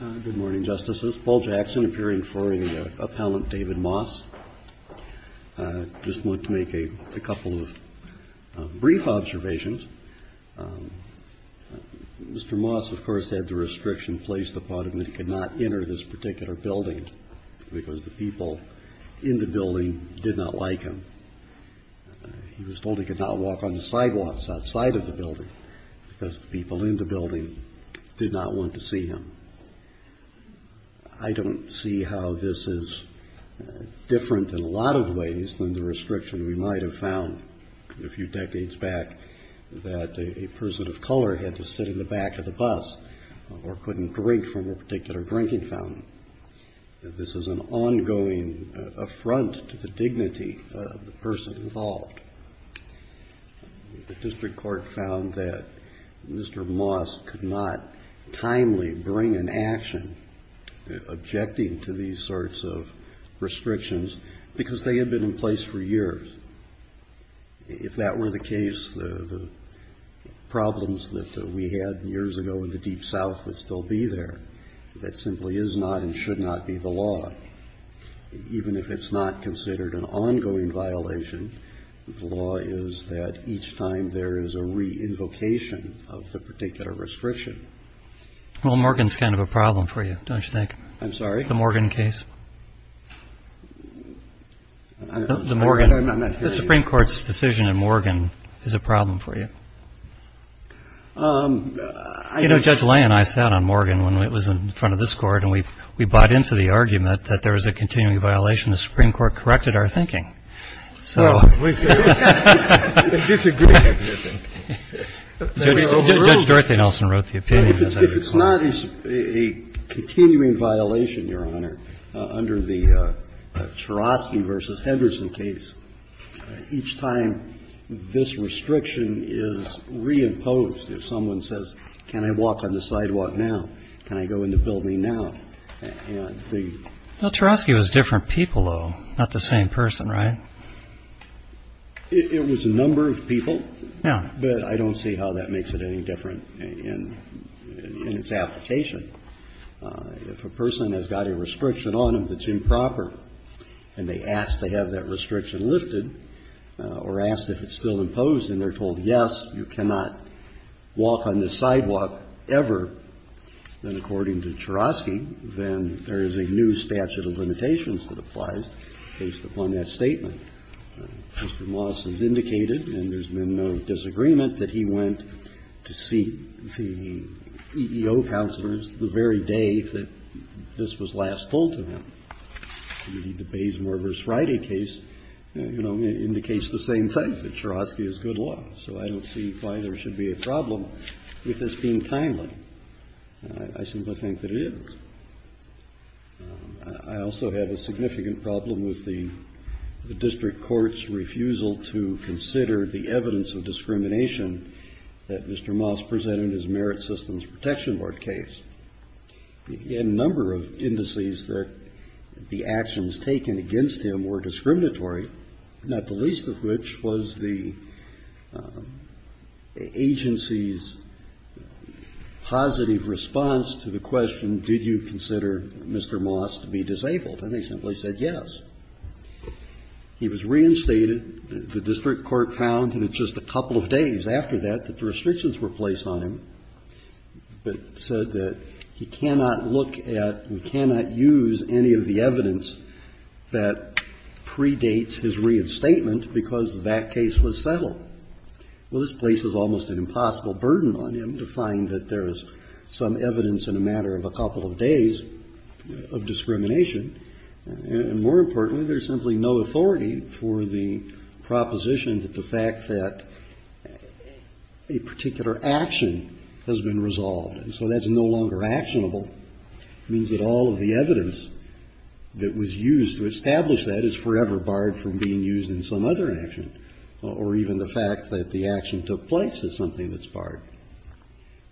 Good morning, Justices. Paul Jackson, appearing for the Appellant David Moss. I just want to make a couple of brief observations. Mr. Moss, of course, had the restriction placed upon him that he could not enter this particular building because the people in the building did not like him. He was told he could not walk on the sidewalks outside of the building because the people in the building did not want to see him. I don't see how this is different in a lot of ways than the restriction we might have found a few decades back that a person of color had to sit in the back of the bus or couldn't drink from a particular drinking fountain. This is an ongoing affront to the dignity of the person involved. The district court found that Mr. Moss could not timely bring an action objecting to these sorts of restrictions because they had been in place for years. If that were the case, the problems that we had years ago in the Deep South would still be there. That simply is not and should not be the law. Even if it's not considered an ongoing violation, the law is that each time there is a re-invocation of the particular restriction. Well, Morgan's kind of a problem for you, don't you think? I'm sorry? The Morgan case. The Morgan. I'm not hearing you. The Supreme Court's decision in Morgan is a problem for you. You know, Judge Lay and I sat on Morgan when it was in front of this Court and we bought into the argument that there was a continuing violation. The Supreme Court corrected our thinking. So we disagree. Judge Dorothy Nelson wrote the opinion. If it's not a continuing violation, Your Honor, under the Chorosky v. Henderson case, each time this restriction is reimposed, if someone says, can I walk on the sidewalk now, can I go in the building now, and the ---- Well, Chorosky was different people, though, not the same person, right? It was a number of people. Yeah. But I don't see how that makes it any different in its application. If a person has got a restriction on them that's improper and they ask to have that restriction lifted or ask if it's still imposed and they're told, yes, you cannot walk on the sidewalk ever, then according to Chorosky, then there is a new statute of limitations that applies based upon that statement. Mr. Moss has indicated, and there's been no disagreement, that he went to see the EEO counselors the very day that this was last told to him. The Baysmore v. Friday case, you know, indicates the same thing, that Chorosky is good law. So I don't see why there should be a problem with this being timely. I simply think that it is. I also have a significant problem with the district court's refusal to consider the evidence of discrimination that Mr. Moss presented in his Merit Systems Protection Board case. He had a number of indices that the actions taken against him were discriminatory, not the least of which was the agency's positive response to the question, did you consider Mr. Moss to be disabled? And they simply said yes. He was reinstated. The district court found in just a couple of days after that that the restrictions were placed on him, but said that he cannot look at, cannot use any of the evidence that predates his reinstatement because that case was settled. Well, this places almost an impossible burden on him to find that there is some evidence in a matter of a couple of days of discrimination, and more importantly, there is simply no authority for the proposition that the fact that a particular action has been resolved. And so that's no longer actionable. It means that all of the evidence that was used to establish that is forever barred from being used in some other action, or even the fact that the action took place is something that's barred.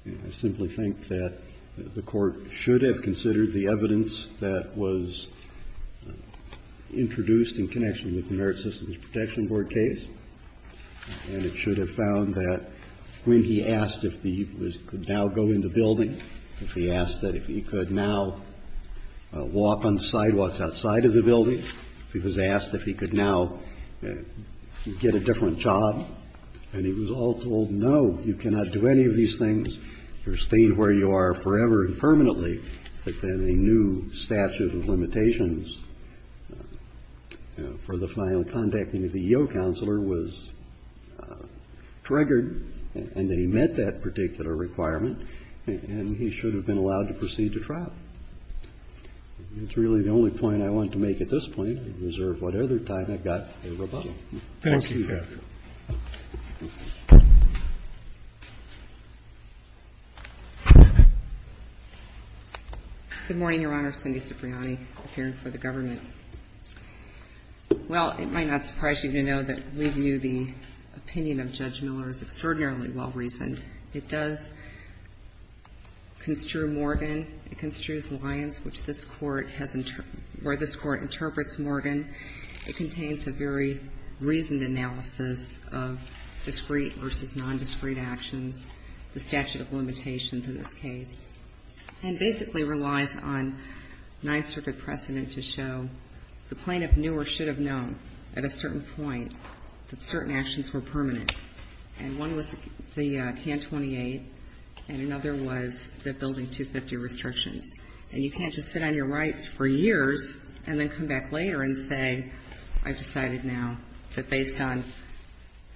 I simply think that the Court should have considered the evidence that was introduced in connection with the Merit Systems Protection Board case, and it should have found that when he asked if he could now go in the building, if he asked that if he could now walk on the sidewalks outside of the building, if he was asked if he could now get a different job, and he was all told, no, you cannot do any of these things. You're staying where you are forever and permanently, but then a new statute of limitations for the final contacting of the EO counselor was triggered, and that he met that particular requirement, and he should have been allowed to proceed to trial. That's really the only point I want to make at this point. I reserve whatever time I've got for rebuttal. Thank you, Your Honor. Good morning, Your Honor. Cindy Cipriani, appearing for the government. Well, it might not surprise you to know that we view the opinion of Judge Miller as extraordinarily well-reasoned. It does construe Morgan. It construes Lyons, which this Court has, or this Court interprets Morgan. It contains a very reasoned analysis of discrete versus nondiscrete actions, the statute of limitations in this case, and basically relies on Ninth Circuit precedent to show the plaintiff knew or should have known at a certain point that certain actions were permanent. And one was the Can 28, and another was the Building 250 restrictions. And you can't just sit on your rights for years and then come back later and say, I've decided now that based on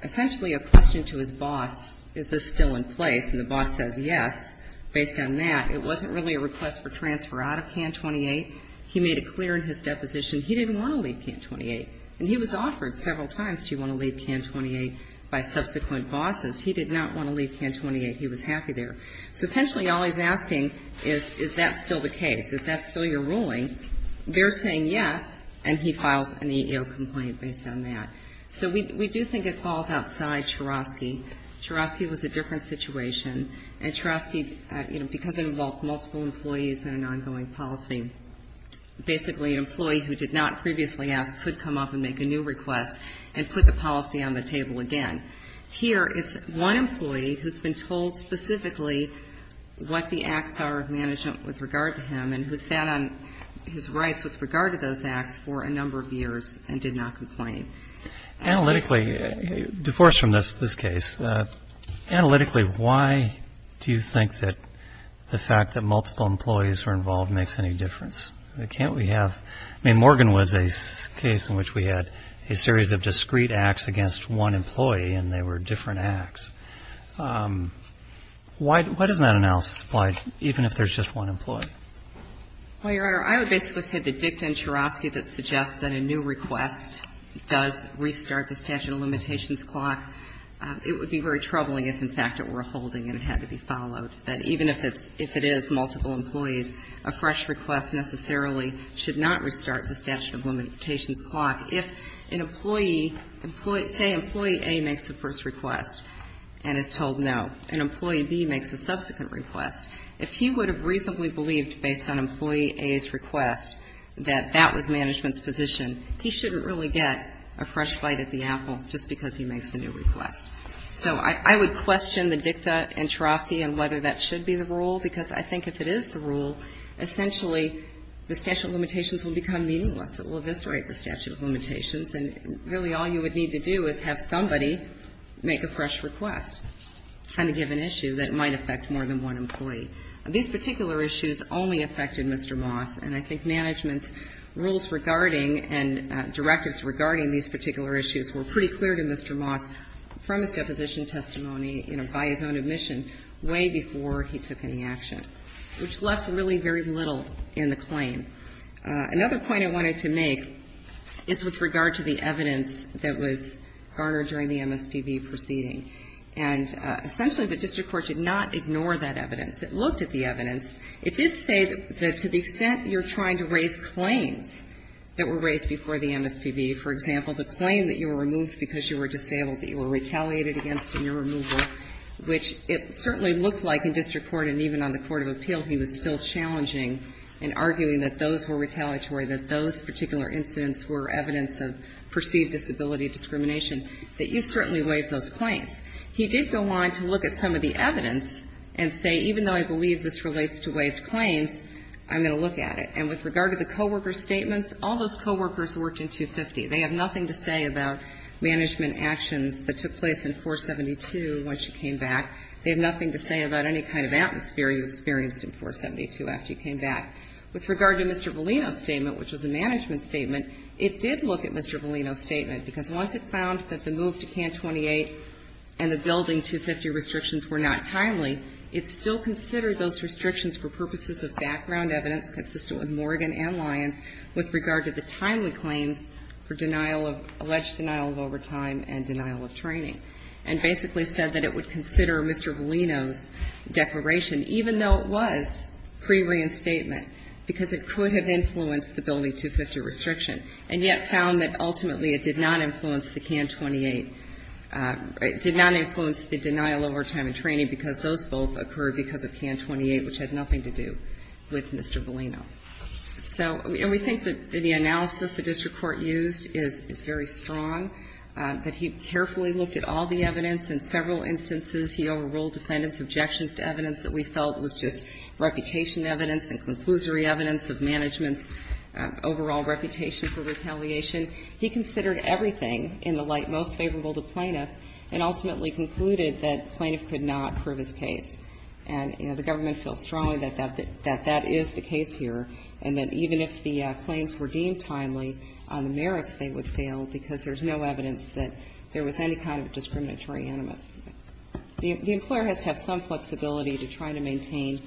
essentially a question to his boss, is this still in place? And the boss says yes. Based on that, it wasn't really a request for transfer out of Can 28. He made it clear in his deposition he didn't want to leave Can 28. And he was offered several times, do you want to leave Can 28, by subsequent bosses. He did not want to leave Can 28. He was happy there. So essentially all he's asking is, is that still the case? Is that still your ruling? They're saying yes, and he files an EEO complaint based on that. So we do think it falls outside Chorosky. Chorosky was a different situation. And Chorosky, you know, because it involved multiple employees and an ongoing policy, basically an employee who did not previously ask could come up and make a new request and put the policy on the table again. Here, it's one employee who's been told specifically what the acts are of management with regard to him and who sat on his rights with regard to those acts for a number of years and did not complain. Analytically, divorced from this case, analytically, why do you think that the fact that multiple employees were involved makes any difference? Can't we have, I mean, Morgan was a case in which we had a series of discreet acts against one employee and they were different acts. Why doesn't that analysis apply even if there's just one employee? Well, Your Honor, I would basically say that dicta in Chorosky that suggests that a new request does restart the statute of limitations clock, it would be very troubling if, in fact, it were a holding and it had to be followed, that even if it is multiple employees, a fresh request necessarily should not restart the statute of limitations clock. If an employee, say employee A makes the first request and is told no, and employee B makes a subsequent request, if he would have reasonably believed based on employee A's request that that was management's position, he shouldn't really get a fresh bite at the apple just because he makes a new request. So I would question the dicta in Chorosky and whether that should be the rule, because I think if it is the rule, essentially, the statute of limitations will become meaningless. It will eviscerate the statute of limitations, and really all you would need to do is have somebody make a fresh request on a given issue that might affect more than one employee. These particular issues only affected Mr. Moss, and I think management's rules regarding and directives regarding these particular issues were pretty clear to Mr. Moss from his deposition testimony, you know, by his own admission, way before Another point I wanted to make is with regard to the evidence that was garnered during the MSPB proceeding. And essentially, the district court did not ignore that evidence. It looked at the evidence. It did say that to the extent you're trying to raise claims that were raised before the MSPB, for example, the claim that you were removed because you were disabled, that you were retaliated against in your removal, which it certainly looked like in district court and even on the court of appeal he was still challenging and arguing that those were retaliatory, that those particular incidents were evidence of perceived disability discrimination, that you certainly waived those claims. He did go on to look at some of the evidence and say, even though I believe this relates to waived claims, I'm going to look at it. And with regard to the co-worker statements, all those co-workers worked in 250. They have nothing to say about management actions that took place in 472 when she came back. They have nothing to say about any kind of atmosphere you experienced in 472 after you came back. With regard to Mr. Valino's statement, which was a management statement, it did look at Mr. Valino's statement, because once it found that the move to CAN 28 and the building 250 restrictions were not timely, it still considered those restrictions for purposes of background evidence consistent with Morgan and Lyons with regard to the timely claims for denial of ‑‑ alleged denial of overtime and denial of training, and basically said that it would consider Mr. Valino's declaration, even though it was prereinstatement, because it could have influenced the building 250 restriction, and yet found that ultimately it did not influence the CAN 28. It did not influence the denial of overtime and training because those both occurred because of CAN 28, which had nothing to do with Mr. Valino. So ‑‑ and we think that the analysis the district court used is very strong, that he carefully looked at all the evidence in several instances. He overruled defendant's objections to evidence that we felt was just reputation evidence and conclusory evidence of management's overall reputation for retaliation. He considered everything in the light most favorable to plaintiff and ultimately concluded that plaintiff could not prove his case. And, you know, the government feels strongly that that is the case here, and that even if the claims were deemed timely on the merits, they would fail because there's no evidence that there was any kind of discriminatory animus. The employer has to have some flexibility to try to maintain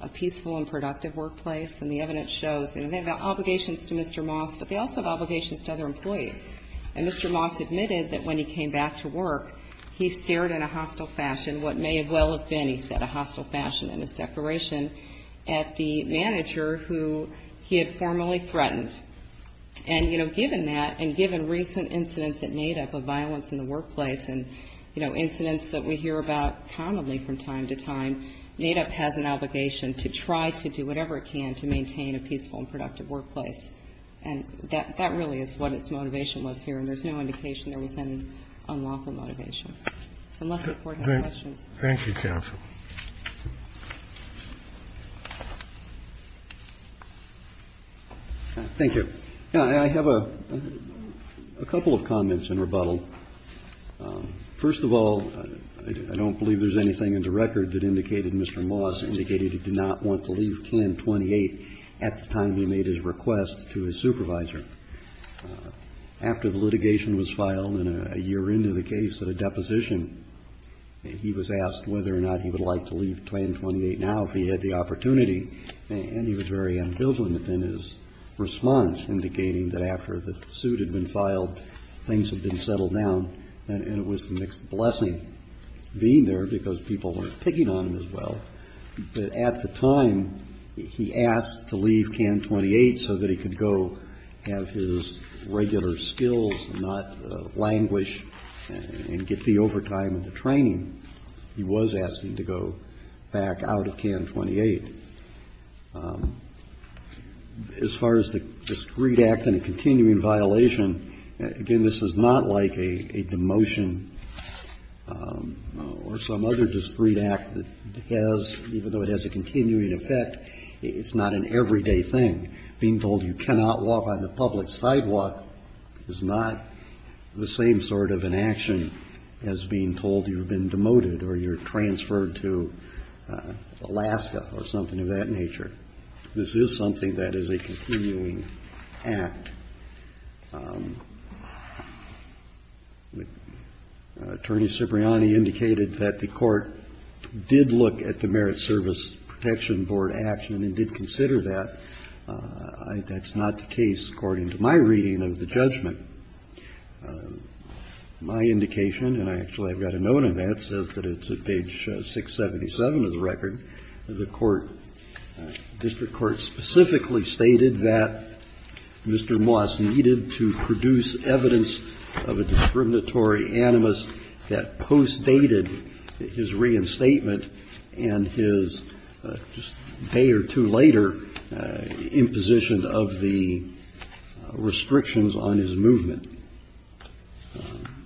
a peaceful and productive workplace, and the evidence shows, you know, they have obligations to Mr. Moss, but they also have obligations to other employees. And Mr. Moss admitted that when he came back to work, he stared in a hostile fashion what may well have been, he said, a hostile fashion in his declaration at the manager who he had formerly threatened. And, you know, given that, and given recent incidents at NAIDAP of violence in the workplace and, you know, incidents that we hear about prominently from time to time, NAIDAP has an obligation to try to do whatever it can to maintain a peaceful and productive workplace. And that really is what its motivation was here, and there's no indication there was any unlawful motivation. So unless the Court has questions. Thank you, counsel. Thank you. I have a couple of comments in rebuttal. First of all, I don't believe there's anything in the record that indicated Mr. Moss indicated he did not want to leave Can 28 at the time he made his request to his supervisor. After the litigation was filed and a year into the case, at a deposition, he was asked whether or not he would like to leave Can 28 now if he had the opportunity. And he was very ambivalent in his response, indicating that after the suit had been filed, things had been settled down, and it was the next blessing being there because people were picking on him as well. But at the time, he asked to leave Can 28 so that he could go have his regular skills and not languish and get the overtime and the training. He was asking to go back out of Can 28. As far as the discreet act and the continuing violation, again, this is not like a demotion or some other discreet act that has, even though it has a continuing effect, it's not an everyday thing. Being told you cannot walk on the public sidewalk is not the same sort of an action as being told you've been demoted or you're transferred to Alaska or something of that nature. This is something that is a continuing act. Attorney Cipriani indicated that the Court did look at the Merit Service Protection Board action and did consider that. That's not the case according to my reading of the judgment. My indication, and I actually have got a note of that, says that it's at page 677 of the record, the court, district court specifically stated that Mr. Moss needed to produce evidence of a discriminatory animus that postdated his reinstatement and his, just a day or two later, imposition of the restrictions on his movement.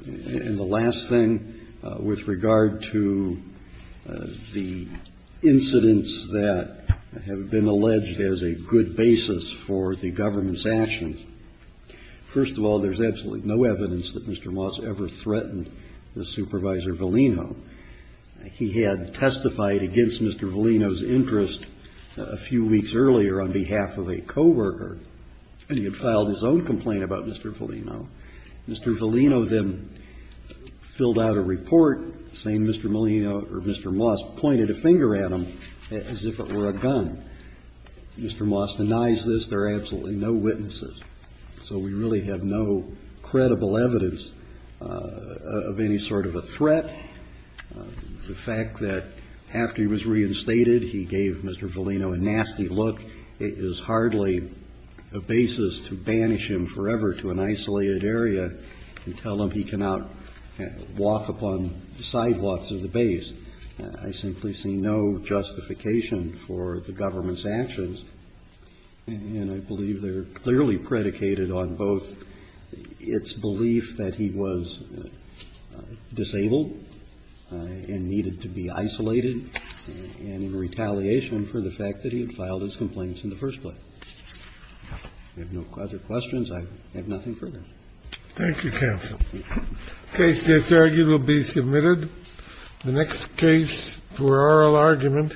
And the last thing, with regard to the incidents that have been alleged as a good basis for the government's actions, first of all, there's absolutely no evidence that Mr. Moss ever threatened the supervisor Valino. He had testified against Mr. Valino's interest a few weeks earlier on behalf of a coworker, and he had filed his own complaint about Mr. Valino. Mr. Valino then filled out a report saying Mr. Malino or Mr. Moss pointed a finger at him as if it were a gun. Mr. Moss denies this. There are absolutely no witnesses. So we really have no credible evidence of any sort of a threat. The fact that after he was reinstated, he gave Mr. Valino a nasty look is hardly a basis to banish him forever to an isolated area and tell him he cannot walk upon the sidewalks of the base. I simply see no justification for the government's actions. And I believe they're clearly predicated on both its belief that he was disabled and needed to be isolated and in retaliation for the fact that he had filed his complaints in the first place. If you have no other questions, I have nothing further. Thank you, counsel. The case that's argued will be submitted. The next case for oral argument.